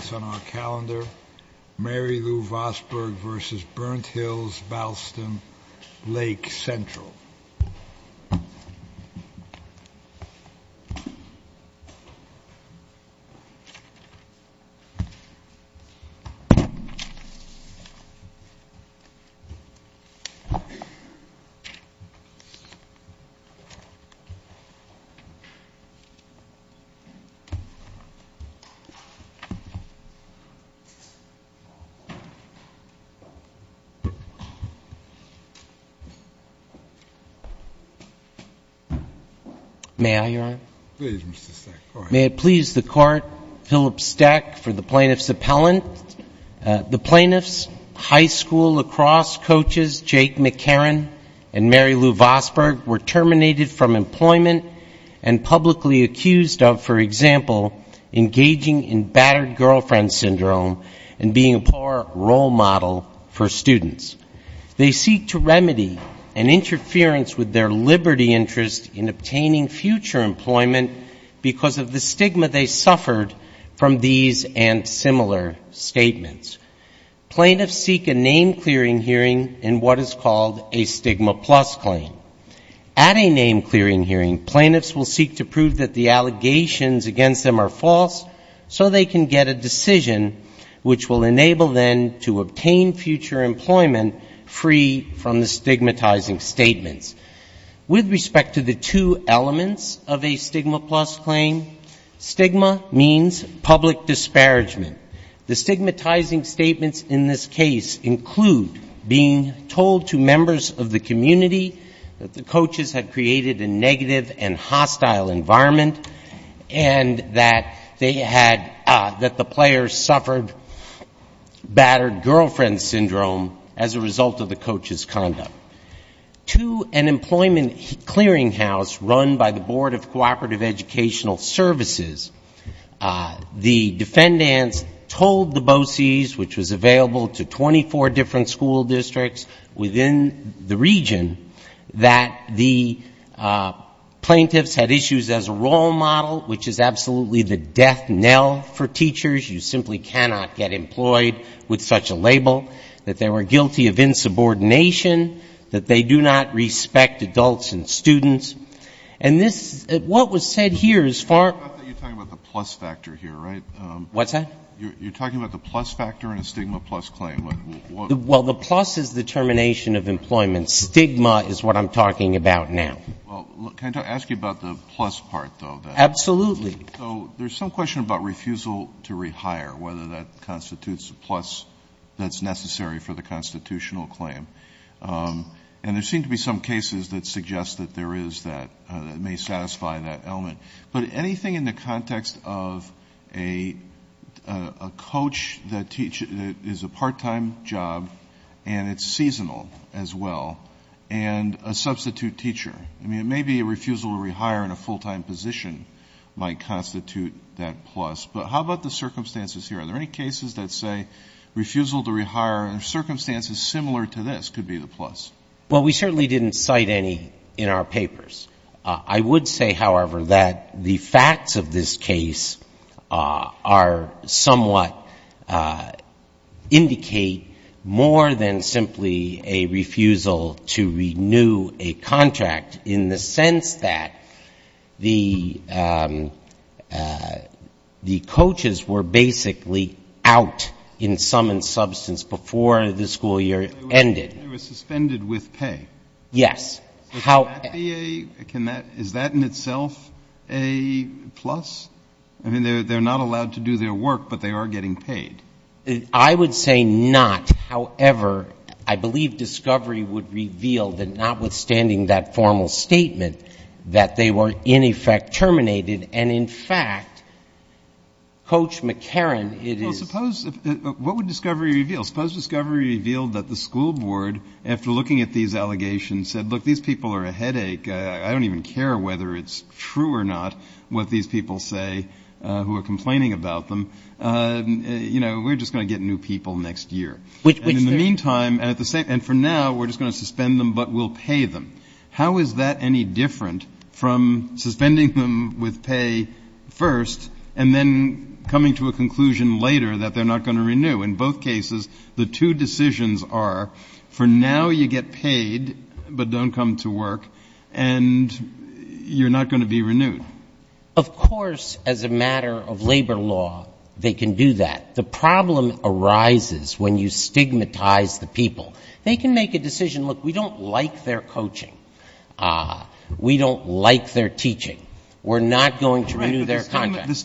ston-Lake-Central. May I Your Honor? Please Mr. Steck, go ahead. May it please the Court, Philip Steck for the plaintiff's appellant. The plaintiff's high school lacrosse coaches, Jake McHerron and Mary Lou Vosburg, were terminated from employment and publicly accused of, for example, engaging in battered girlfriends. and being a poor role model for students. They seek to remedy an interference with their liberty interest in obtaining future employment because of the stigma they suffered from these and similar statements. Plaintiffs seek a name-clearing hearing in what is called a stigma-plus claim. At a name-clearing hearing, plaintiffs will seek to prove that the allegations against them are false so they can get a decision. which will enable them to obtain future employment free from the stigmatizing statements. With respect to the two elements of a stigma-plus claim, stigma means public disparagement. The stigmatizing statements in this case include being told to members of the community that the coaches had created a negative and hostile environment and that they had, that the players suffered battered girlfriend syndrome as a result of the coaches' conduct. To an employment clearinghouse run by the Board of Cooperative Educational Services, the defendants told the BOCES, which was available to 24 different school districts within the region, that the plaintiffs had issues as a role model, which is absolutely the death knell for teachers, you simply cannot get employed with such a label, that they were guilty of insubordination. That they do not respect adults and students. And this, what was said here as far as... I thought you were talking about the plus factor here, right? What's that? You're talking about the plus factor in a stigma-plus claim. Well, the plus is the termination of employment. Stigma is what I'm talking about now. Well, can I ask you about the plus part, though? Absolutely. So there's some question about refusal to rehire, whether that constitutes a plus that's necessary for the constitutional claim. And there seem to be some cases that suggest that there is that, that may satisfy that element. But anything in the context of a coach that is a part-time job and it's seasonal as well, and a substitute teacher. I mean, it may be a refusal to rehire in a full-time position might constitute that plus. But how about the circumstances here? Are there any cases that say refusal to rehire in circumstances similar to this could be the plus? Well, we certainly didn't cite any in our papers. I would say, however, that the facts of this case are somewhat indicate more than simply a refusal to renew a contract in the sense that the coaches were basically out in sum and substance before the school year ended. They were suspended with pay. Yes. Is that in itself a plus? I mean, they're not allowed to do their work, but they are getting paid. I would say not. However, I believe discovery would reveal that notwithstanding that formal statement, that they were in effect terminated. And, in fact, Coach McCarran, it is. Well, suppose, what would discovery reveal? Well, suppose discovery revealed that the school board, after looking at these allegations, said, look, these people are a headache. I don't even care whether it's true or not what these people say who are complaining about them. You know, we're just going to get new people next year. And in the meantime, and for now, we're just going to suspend them, but we'll pay them. How is that any different from suspending them with pay first and then coming to a conclusion later that they're not going to renew? In both cases, the two decisions are, for now you get paid, but don't come to work, and you're not going to be renewed. Of course, as a matter of labor law, they can do that. The problem arises when you stigmatize the people. They can make a decision, look, we don't like their coaching. We don't like their teaching. We're not going to renew their contract. It's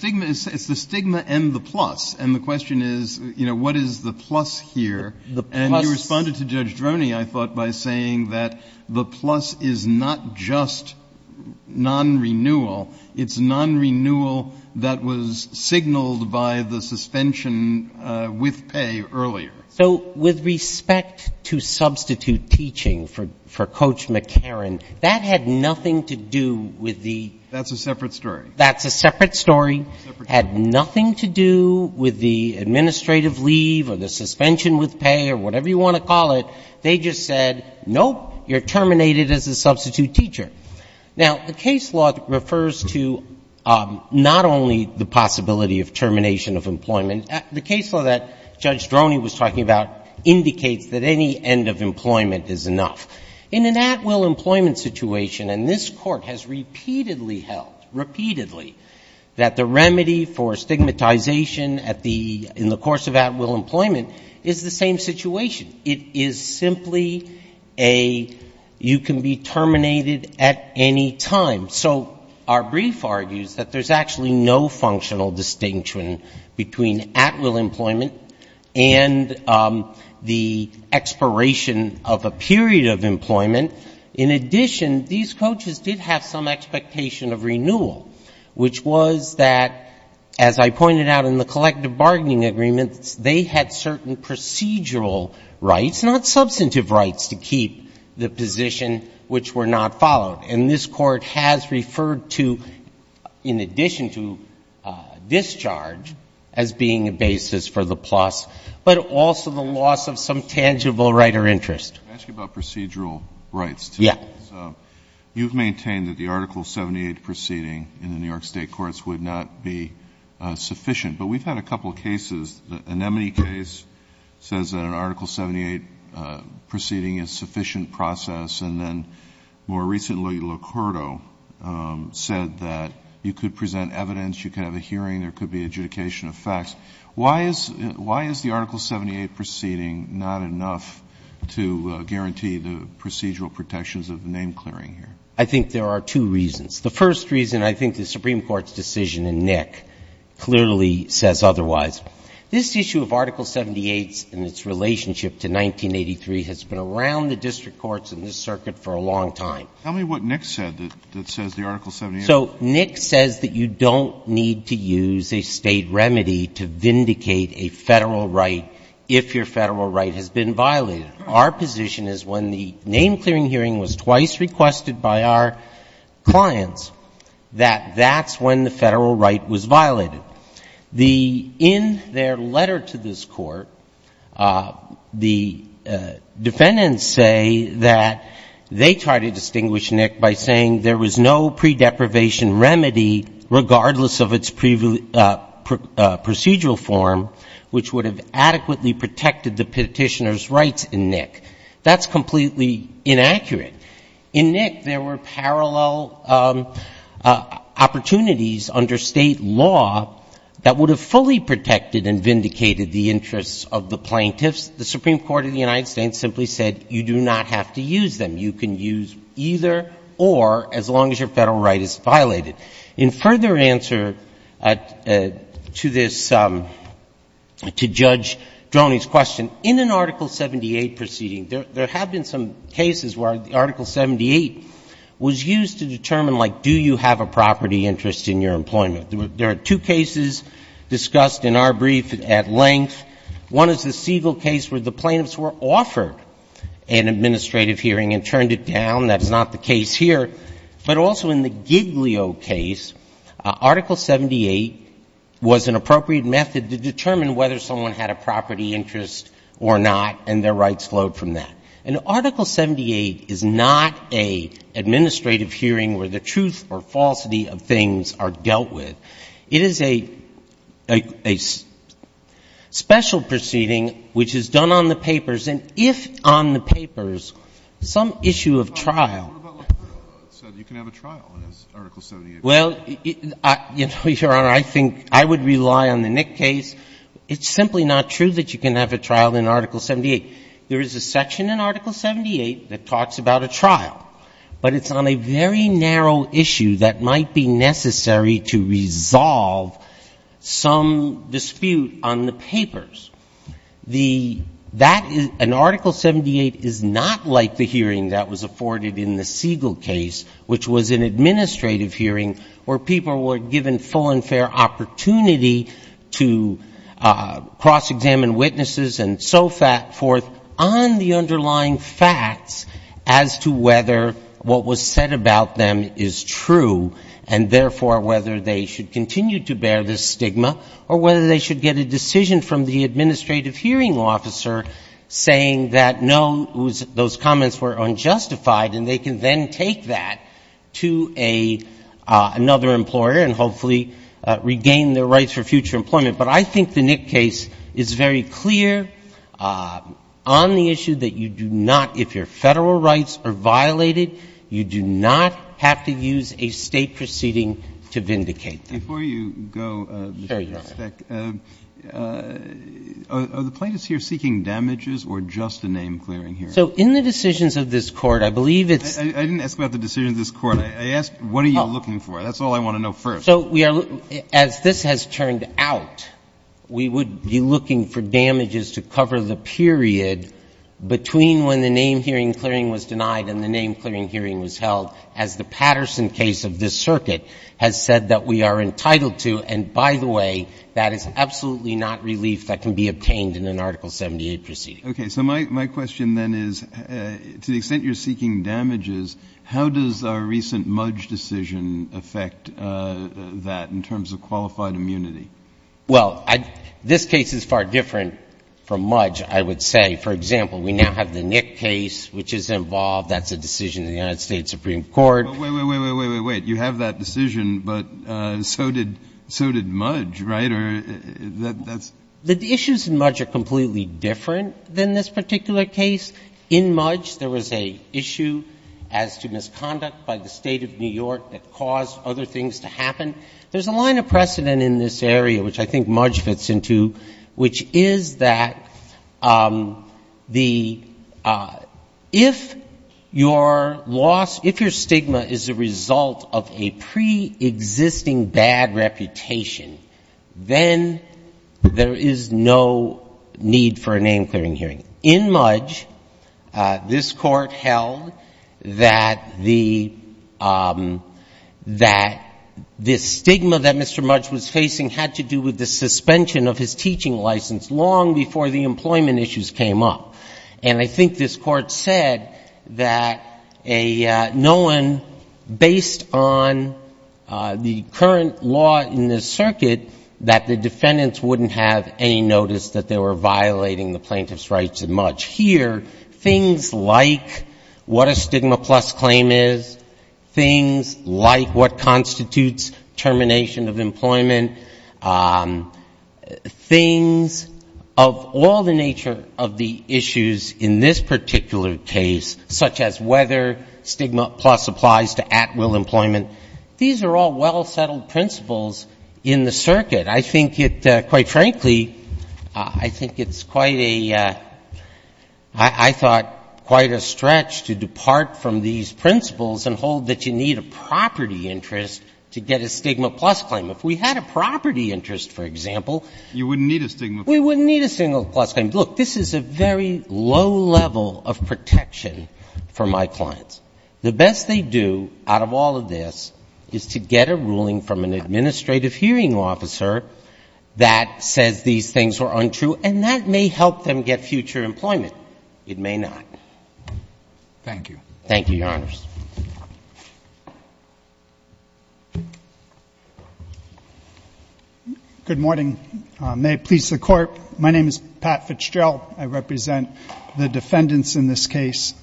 the stigma and the plus, and the question is, you know, what is the plus here? And you responded to Judge Droney, I thought, by saying that the plus is not just non-renewal. It's non-renewal that was signaled by the suspension with pay earlier. So with respect to substitute teaching for Coach McCarran, that had nothing to do with the — That's a separate story. That's a separate story. Separate story. Had nothing to do with the administrative leave or the suspension with pay or whatever you want to call it. They just said, nope, you're terminated as a substitute teacher. Now, the case law refers to not only the possibility of termination of employment. The case law that Judge Droney was talking about indicates that any end of employment is enough. In an at-will employment situation, and this Court has repeatedly held, repeatedly, that the remedy for stigmatization in the course of at-will employment is the same situation. It is simply a, you can be terminated at any time. So our brief argues that there's actually no functional distinction between at-will employment and the expiration of a period of employment. In addition, these coaches did have some expectation of renewal, which was that, as I pointed out in the collective bargaining agreements, they had certain procedural rights, not substantive rights, to keep the position which were not followed. And this Court has referred to, in addition to discharge, as being a basis for the PLOS, but also the loss of some tangible right or interest. Let me ask you about procedural rights, too. Yeah. You've maintained that the Article 78 proceeding in the New York State courts would not be sufficient. But we've had a couple of cases. The Anemone case says that an Article 78 proceeding is a sufficient process. And then more recently, Licordo said that you could present evidence, you could have a hearing, there could be adjudication of facts. Why is the Article 78 proceeding not enough to guarantee the procedural protections of name-clearing here? I think there are two reasons. The first reason, I think the Supreme Court's decision in Nick clearly says otherwise. This issue of Article 78 and its relationship to 1983 has been around the district courts and this circuit for a long time. Tell me what Nick said that says the Article 78. So Nick says that you don't need to use a State remedy to vindicate a Federal right if your Federal right has been violated. Our position is when the name-clearing hearing was twice requested by our clients, that that's when the Federal right was violated. In their letter to this Court, the defendants say that they try to distinguish Nick by saying there was no pre-deprivation remedy, regardless of its procedural form, which would have adequately protected the Petitioner's rights in Nick. That's completely inaccurate. In Nick, there were parallel opportunities under State law that would have fully protected and vindicated the interests of the plaintiffs. The Supreme Court of the United States simply said you do not have to use them. You can use either or as long as your Federal right is violated. In further answer to this, to Judge Droney's question, in an Article 78 proceeding, there have been some cases where the Article 78 was used to determine, like, do you have a property interest in your employment? There are two cases discussed in our brief at length. One is the Siegel case where the plaintiffs were offered an administrative hearing and turned it down. That is not the case here. But also in the Giglio case, Article 78 was an appropriate method to determine whether someone had a property interest or not, and their rights flowed from that. And Article 78 is not an administrative hearing where the truth or falsity of things are dealt with. It is a special proceeding which is done on the papers. And if on the papers some issue of trial — What about if it said you can have a trial in Article 78? Well, Your Honor, I think I would rely on the Nick case. It's simply not true that you can have a trial in Article 78. There is a section in Article 78 that talks about a trial. But it's on a very narrow issue that might be necessary to resolve some dispute on the papers. The — that is — an Article 78 is not like the hearing that was afforded in the Siegel case, which was an administrative hearing where people were given full and fair opportunity to cross-examine witnesses and so forth on the underlying facts as to whether what was said about them is true, and therefore whether they should continue to bear the stigma or whether they should get a decision from the administrative hearing officer saying that, no, those comments were unjustified, and they can then take that to another employer and hopefully regain their rights for future employment. But I think the Nick case is very clear on the issue that you do not — if your Federal rights are violated, you do not have to use a State proceeding to vindicate them. Before you go — Sure, Your Honor. Are the plaintiffs here seeking damages or just a name-clearing hearing? So in the decisions of this Court, I believe it's — I didn't ask about the decisions of this Court. I asked what are you looking for. That's all I want to know first. So we are — as this has turned out, we would be looking for damages to cover the period between when the name-hearing clearing was denied and the name-clearing hearing was held, as the Patterson case of this circuit has said that we are entitled to. And by the way, that is absolutely not relief that can be obtained in an Article 78 proceeding. Okay. So my question then is, to the extent you're seeking damages, how does our recent Mudge decision affect that in terms of qualified immunity? Well, this case is far different from Mudge, I would say. For example, we now have the Nick case, which is involved. That's a decision in the United States Supreme Court. Wait, wait, wait, wait, wait, wait. You have that decision, but so did — so did Mudge, right? Or that's — The issues in Mudge are completely different than this particular case. In Mudge, there was an issue as to misconduct by the State of New York that caused other things to happen. There's a line of precedent in this area, which I think Mudge fits into, which is that the — if your loss — if your stigma is a result of a preexisting bad reputation, then there is no need for a name-clearing hearing. In Mudge, this Court held that the — that the stigma that Mr. Mudge was facing had to do with the employment issues came up. And I think this Court said that a — no one, based on the current law in this circuit, that the defendants wouldn't have any notice that they were violating the plaintiff's rights in Mudge. Here, things like what a stigma plus claim is, things like what constitutes termination of employment, things of all the nature of the issues in this particular case, such as whether stigma plus applies to at-will employment, these are all well-settled principles in the circuit. I think it — quite frankly, I think it's quite a — I thought quite a stretch to depart from these principles and hold that you need a property interest to get a stigma plus claim. If we had a property interest, for example — You wouldn't need a stigma plus claim. We wouldn't need a stigma plus claim. Look, this is a very low level of protection for my clients. The best they do out of all of this is to get a ruling from an administrative hearing officer that says these things are untrue, and that may help them get future employment. It may not. Thank you. Good morning. May it please the Court, my name is Pat Fitzgerald. I represent the defendants in this case.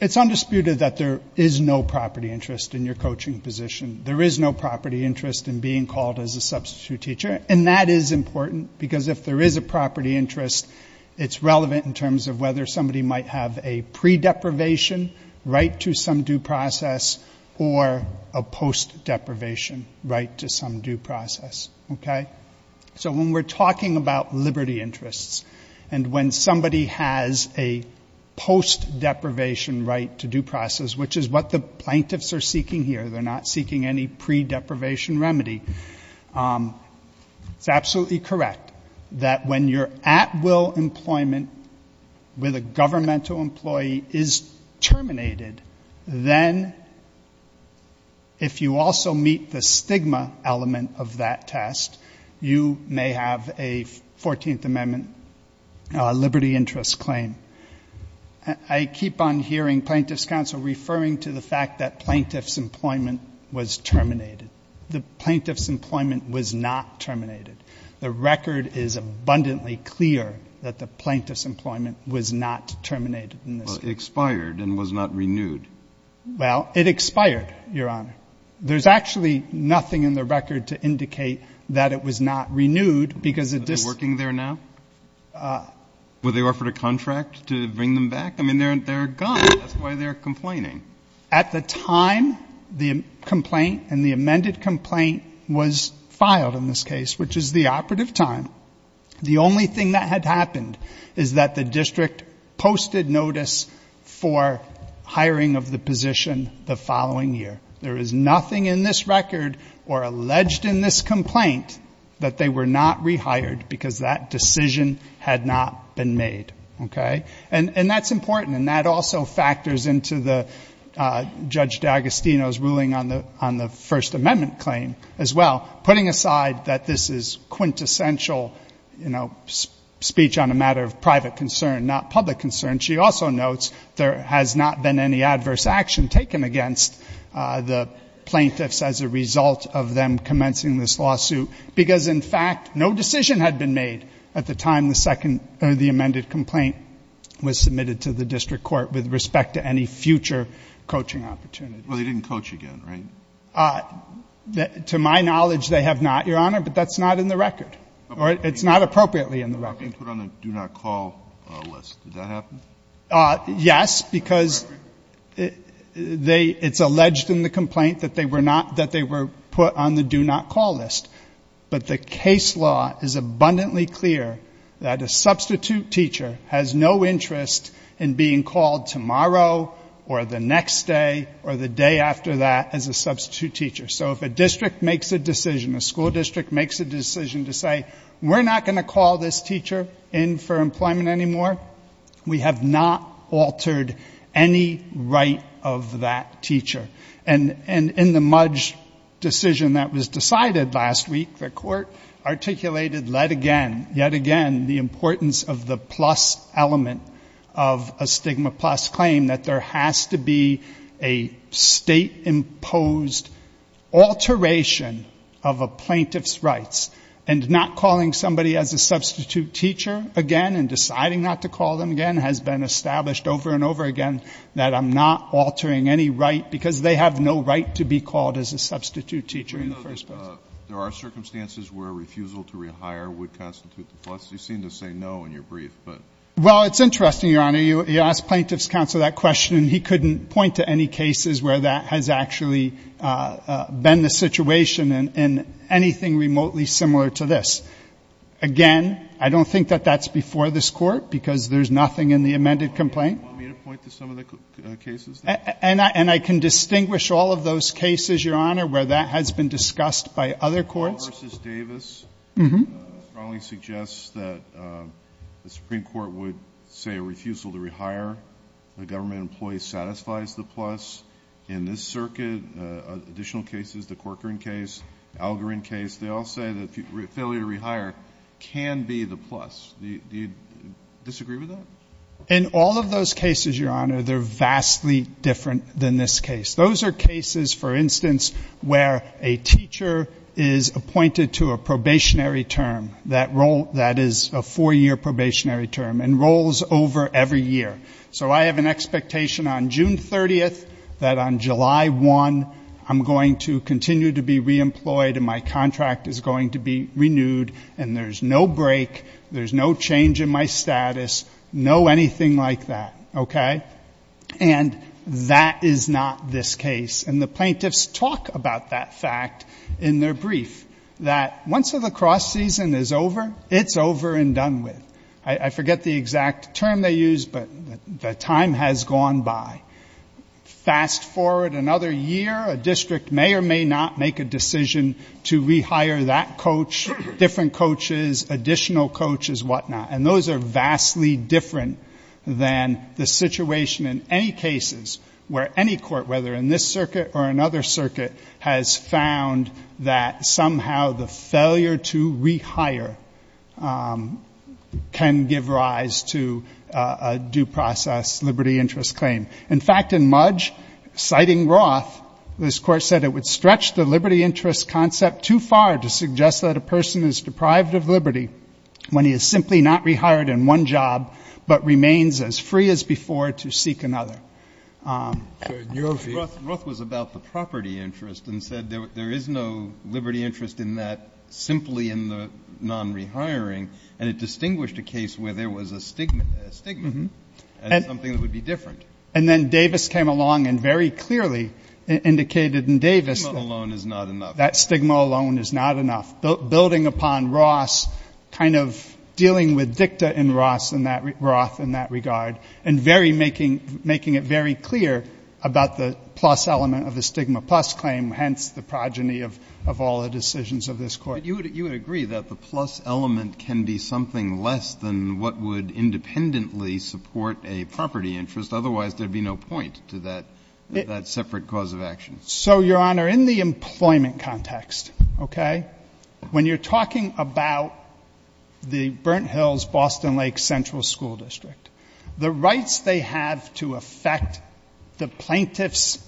It's undisputed that there is no property interest in your coaching position. There is no property interest in being called as a substitute teacher, and that is important, because if there is a property interest, it's relevant in terms of whether somebody might have a pre-deprivation, right to some due process, or a post-deprivation, right to some due process. So when we're talking about liberty interests, and when somebody has a post-deprivation right to due process, which is what the plaintiffs are seeking here, they're not seeking any pre-deprivation remedy, it's absolutely correct that when you're at-will employment with a governmental employee is terminated, then if you also meet the stigma element of that type of request, you may have a 14th Amendment liberty interest claim. I keep on hearing plaintiffs' counsel referring to the fact that plaintiffs' employment was terminated. The plaintiffs' employment was not terminated. The record is abundantly clear that the plaintiffs' employment was not terminated in this case. Well, it expired and was not renewed. Well, it expired, Your Honor. There's actually nothing in the record to indicate that it was not renewed, because it just ---- But they're working there now? Were they offered a contract to bring them back? I mean, they're gone. That's why they're complaining. At the time the complaint and the amended complaint was filed in this case, which is the operative time, the only thing that had been changed was the termination of the position the following year. There is nothing in this record or alleged in this complaint that they were not rehired, because that decision had not been made. And that's important, and that also factors into Judge D'Agostino's ruling on the First Amendment claim as well, putting aside that this is quintessential speech on a matter of private concern, not public concern. She also notes there has not been any adverse action taken against the plaintiffs as a result of them commencing this lawsuit, because, in fact, no decision had been made at the time the second or the amended complaint was submitted to the district court with respect to any future coaching opportunity. Well, they didn't coach again, right? To my knowledge, they have not, Your Honor, but that's not in the record, or it's not appropriately in the record. They were not being put on the do-not-call list. Did that happen? Yes, because they — it's alleged in the complaint that they were not — that they were put on the do-not-call list. But the case law is abundantly clear that a substitute teacher has no interest in being called tomorrow or the next day or the day after that as a substitute teacher. So if a district makes a decision, a school district makes a decision to say, we're not going to call this teacher in for employment anymore, we have not altered any right of that teacher. And in the Mudge decision that was decided last week, the court articulated yet again the importance of the plus element of a substitute teacher and that there has to be a state-imposed alteration of a plaintiff's rights. And not calling somebody as a substitute teacher again and deciding not to call them again has been established over and over again that I'm not altering any right because they have no right to be called as a substitute teacher in the first place. There are circumstances where refusal to rehire would constitute the plus. You seem to say no in your brief, but — Well, it's interesting, Your Honor. You asked Plaintiff's Counsel that question and he couldn't point to any cases where that has actually been the situation in anything remotely similar to this. Again, I don't think that that's before this Court because there's nothing in the amended complaint. Do you want me to point to some of the cases? And I can distinguish all of those cases, Your Honor, where that has been discussed by other courts. Paul v. Davis strongly suggests that the Supreme Court would say a refusal to rehire a government employee satisfies the plus. In this circuit, additional cases, the Corcoran case, Algorin case, they all say that failure to rehire can be the plus. Do you disagree with that? In all of those cases, Your Honor, they're vastly different than this case. Those are cases, for instance, where a teacher is appointed to a probationary term that is a four-year probationary term and rolls over every year. So I have an expectation on June 30th that on July 1 I'm going to continue to be reemployed and my contract is going to be renewed and there's no break. No change in my status, no anything like that, okay? And that is not this case. And the plaintiffs talk about that fact in their brief, that once the lacrosse season is over, it's over and done with. I forget the exact term they use, but the time has gone by. Fast forward another year, a district may or may not make a decision to rehire that coach, different coaches, additional coaches, whatnot, and those are vastly different than the situation in any cases where any court, whether in this circuit or another circuit, has found that somehow the failure to rehire can give rise to a due process liberty interest claim. In fact, in Mudge, citing Roth, this Court said it would stretch the liberty interest concept too far to suggest that a person is deprived of liberty when he is simply not rehired in one job, but remains as free as before to seek another. Ruth was about the property interest and said there is no liberty interest in that simply in the non-rehiring, and it distinguished a case where there was a stigma and something that would be different. And then Davis came along and very clearly indicated in Davis that stigma alone is not enough. Building upon Roth's kind of dealing with dicta in Roth in that regard, and making it very clear about the plus element of the stigma plus claim, hence the progeny of all the decisions of this Court. But you would agree that the plus element can be something less than what would independently support a property interest, otherwise there would be no point to that separate cause of action. So, Your Honor, in the employment context, okay, when you're talking about the Burnt Hills-Boston Lake Central School District, the rights they have to affect the plaintiff's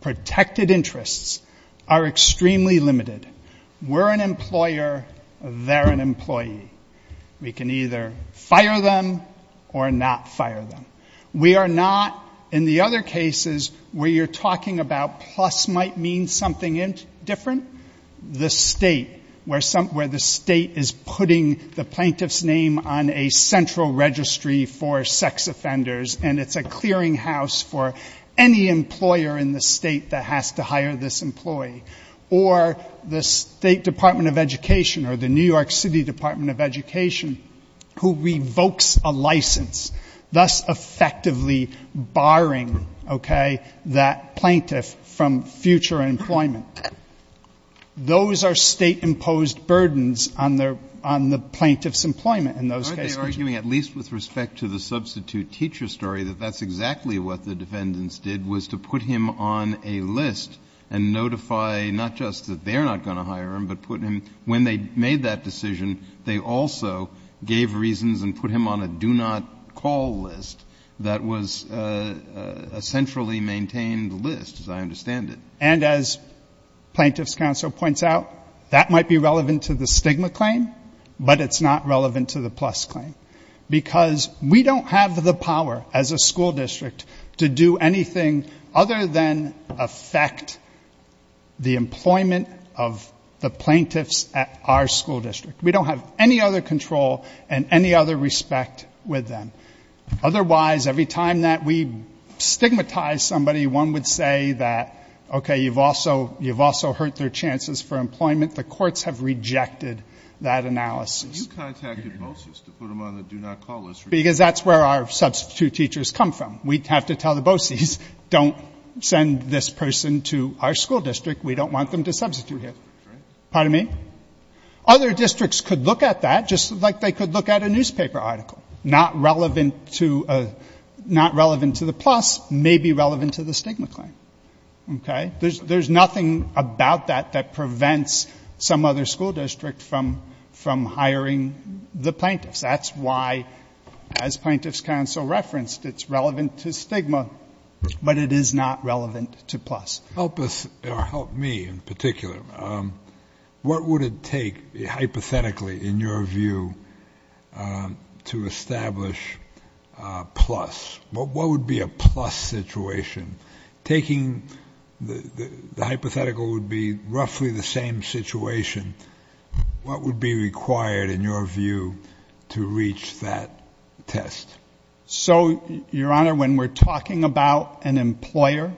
protected interests are extremely limited. We're an employer, they're an employee. We can either fire them or not fire them. We are not, in the other cases where you're talking about plus might mean something different, the State, where the State is putting the plaintiff's name on a central registry for sex offenders, and it's a clearinghouse for any employer in the State that has to hire this employee. Or the State Department of Education or the New York City Department of Education who revokes a license, thus effectively barring, okay, that plaintiff from future employment. Those are State-imposed burdens on the plaintiff's employment in those cases. Kennedy. Aren't they arguing, at least with respect to the substitute teacher story, that that's exactly what the defendants did, was to put him on a list and notify not just that they're not going to hire him, but put him, when they made that decision, they also gave reasons and put him on a do-not-call list that was a centrally maintained list, as I understand it. And as Plaintiff's Counsel points out, that might be relevant to the stigma claim, but it's not relevant to the plus claim, because we don't have the power as a school district to do anything other than affect the employment of the plaintiffs at our school district. We don't have any other control and any other respect with them. Otherwise, every time that we stigmatize somebody, one would say that, okay, you've also hurt their chances for employment. The courts have rejected that analysis. But you contacted BOCES to put them on the do-not-call list. Because that's where our substitute teachers come from. We have to tell the BOCES, don't send this person to our school district. We don't want them to substitute here. Pardon me? Other districts could look at that, just like they could look at a newspaper article. Not relevant to the plus, maybe relevant to the stigma claim. Okay? There's nothing about that that prevents some other school district from hiring the plaintiffs. That's why, as Plaintiff's Counsel referenced, it's relevant to stigma, but it is not relevant to plus. Help us, or help me in particular. What would it take, hypothetically, in your view, to establish plus? What would be a plus situation? Taking the hypothetical would be roughly the same situation. What would be required, in your view, to reach that test? So, Your Honor, when we're talking about an employer,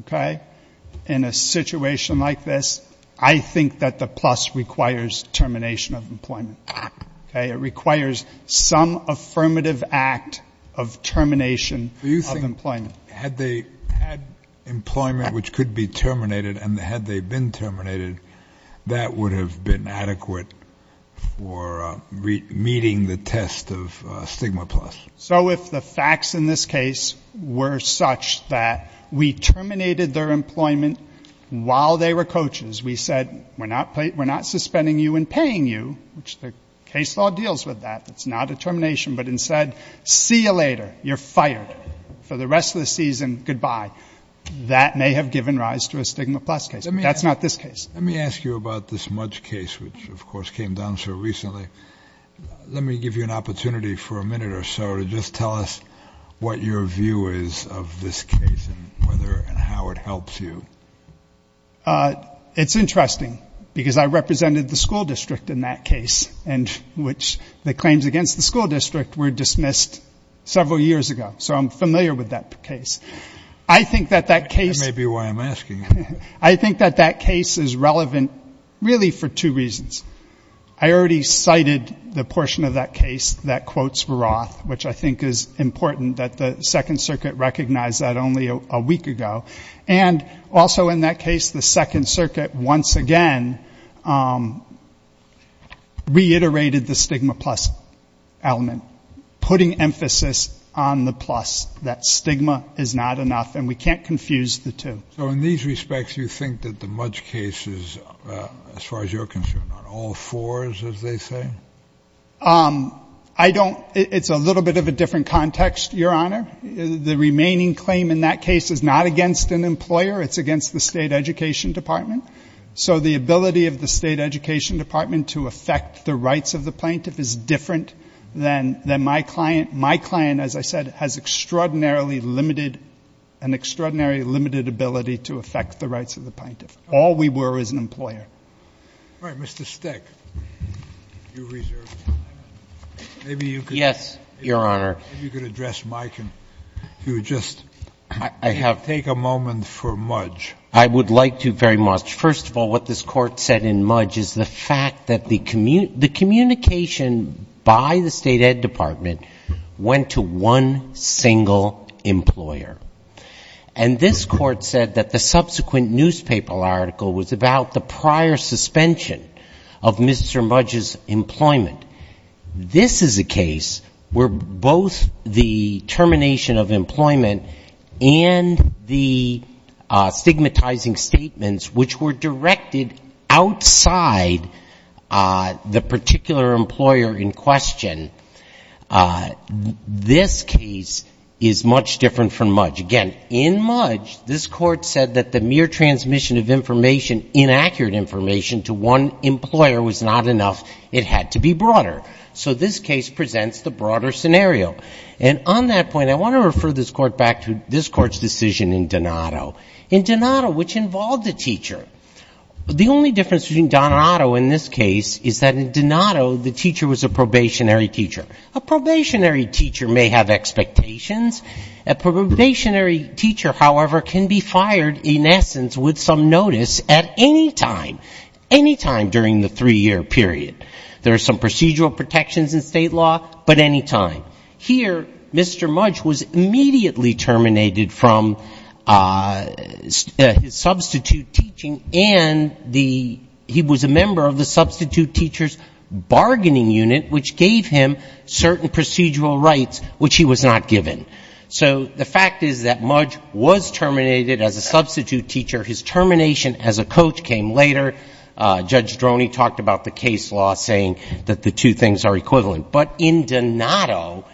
okay, in a situation like this, I think that the plus requires termination of employment. Okay? It requires some affirmative act of termination of employment. Had they had employment, which could be terminated, and had they been terminated, that would have been adequate for meeting the test of stigma plus. So if the facts in this case were such that we terminated their employment while they were coaches, we said, we're not suspending you and paying you, which the case law deals with that. It's not a termination. But instead, see you later. You're fired. For the rest of the season, goodbye. That may have given rise to a stigma plus case. That's not this case. Let me ask you about this Mudge case, which, of course, came down so recently. Let me give you an opportunity for a minute or so to just tell us what your view is of this case and whether and how it helps you. It's interesting because I represented the school district in that case, and which the claims against the school district were dismissed several years ago. So I'm familiar with that case. I think that that case. That may be why I'm asking. I think that that case is relevant really for two reasons. I already cited the portion of that case that quotes Roth, which I think is important that the Second Circuit recognized that only a week ago. And also in that case, the Second Circuit once again reiterated the stigma plus element, putting emphasis on the plus, that stigma is not enough, and we can't confuse the two. So in these respects, you think that the Mudge case is, as far as you're concerned, on all fours, as they say? I don't. It's a little bit of a different context, Your Honor. The remaining claim in that case is not against an employer. It's against the State Education Department. So the ability of the State Education Department to affect the rights of the plaintiff is different than my client. My client, as I said, has extraordinarily limited, an extraordinarily limited ability to affect the rights of the plaintiff. All we were is an employer. All right. Mr. Stick. You reserved time. Maybe you could. Yes, Your Honor. Maybe you could address Mike and if you would just take a moment for Mudge. I would like to very much. First of all, what this Court said in Mudge is the fact that the communication by the State Ed Department went to one single employer. And this Court said that the subsequent newspaper article was about the prior suspension of Mr. Mudge's employment. This is a case where both the termination of employment and the stigmatizing statements, which were directed outside the particular employer in question, this case is much different from Mudge. Again, in Mudge, this Court said that the mere transmission of information, inaccurate information, to one employer was not enough. It had to be broader. So this case presents the broader scenario. And on that point, I want to refer this Court back to this Court's decision in Donato. In Donato, which involved a teacher, the only difference between Donato in this case is that in Donato the teacher was a probationary teacher. A probationary teacher may have expectations. A probationary teacher, however, can be fired in essence with some notice at any time, any time during the three-year period. There are some procedural protections in state law, but any time. Here, Mr. Mudge was immediately terminated from his substitute teaching and the he was a member of the substitute teacher's bargaining unit, which gave him certain procedural rights, which he was not given. So the fact is that Mudge was terminated as a substitute teacher. His termination as a coach came later. Judge Droney talked about the case law saying that the two things are equivalent. But in Donato,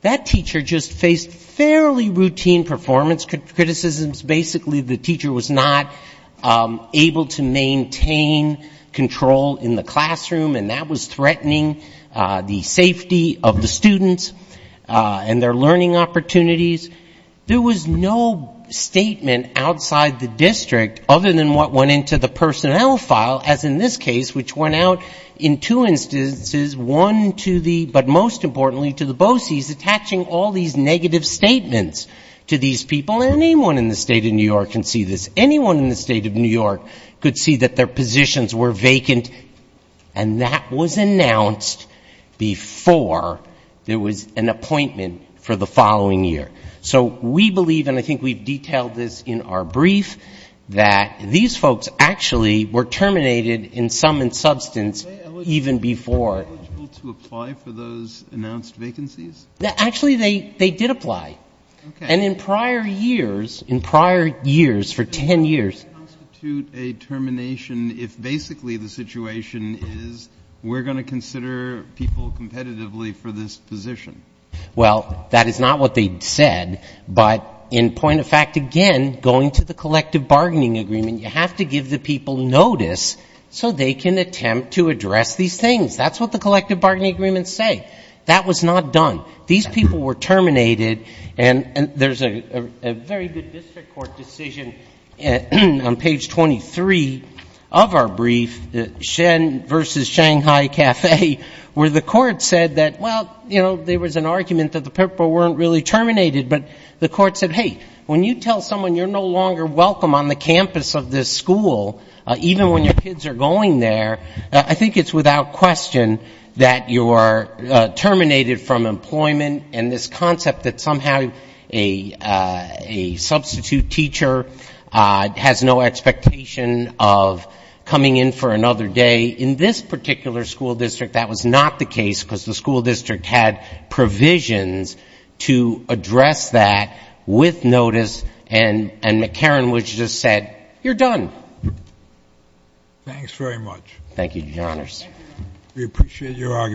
that teacher just faced fairly routine performance criticisms. Basically, the teacher was not able to maintain control in the classroom, and that was threatening. The safety of the students and their learning opportunities, there was no statement outside the district other than what went into the personnel file, as in this case, which went out in two instances, one to the, but most importantly to the BOCES, attaching all these negative statements to these people. Anyone in the State of New York can see this. Anyone in the State of New York could see that their positions were vacant. And that was announced before there was an appointment for the following year. So we believe, and I think we've detailed this in our brief, that these folks actually were terminated in sum and substance even before. Are they eligible to apply for those announced vacancies? Actually, they did apply. Okay. And in prior years, in prior years, for ten years. Would that constitute a termination if basically the situation is we're going to consider people competitively for this position? Well, that is not what they said, but in point of fact, again, going to the collective bargaining agreement, you have to give the people notice so they can attempt to address these things. That's what the collective bargaining agreements say. That was not done. These people were terminated, and there's a very good district court decision on page 23 of our brief, Shen versus Shanghai Cafe, where the court said that, well, you know, there was an argument that the people weren't really terminated, but the court said, hey, when you tell someone you're no longer welcome on the campus of this school, even when your kids are going there, I think it's without question that you are terminated from employment. And this concept that somehow a substitute teacher has no expectation of coming in for another day. In this particular school district, that was not the case because the school district had provisions to address that with notice, and McCarran just said, you're done. Thanks very much. Thank you, Your Honors. We appreciate your argument.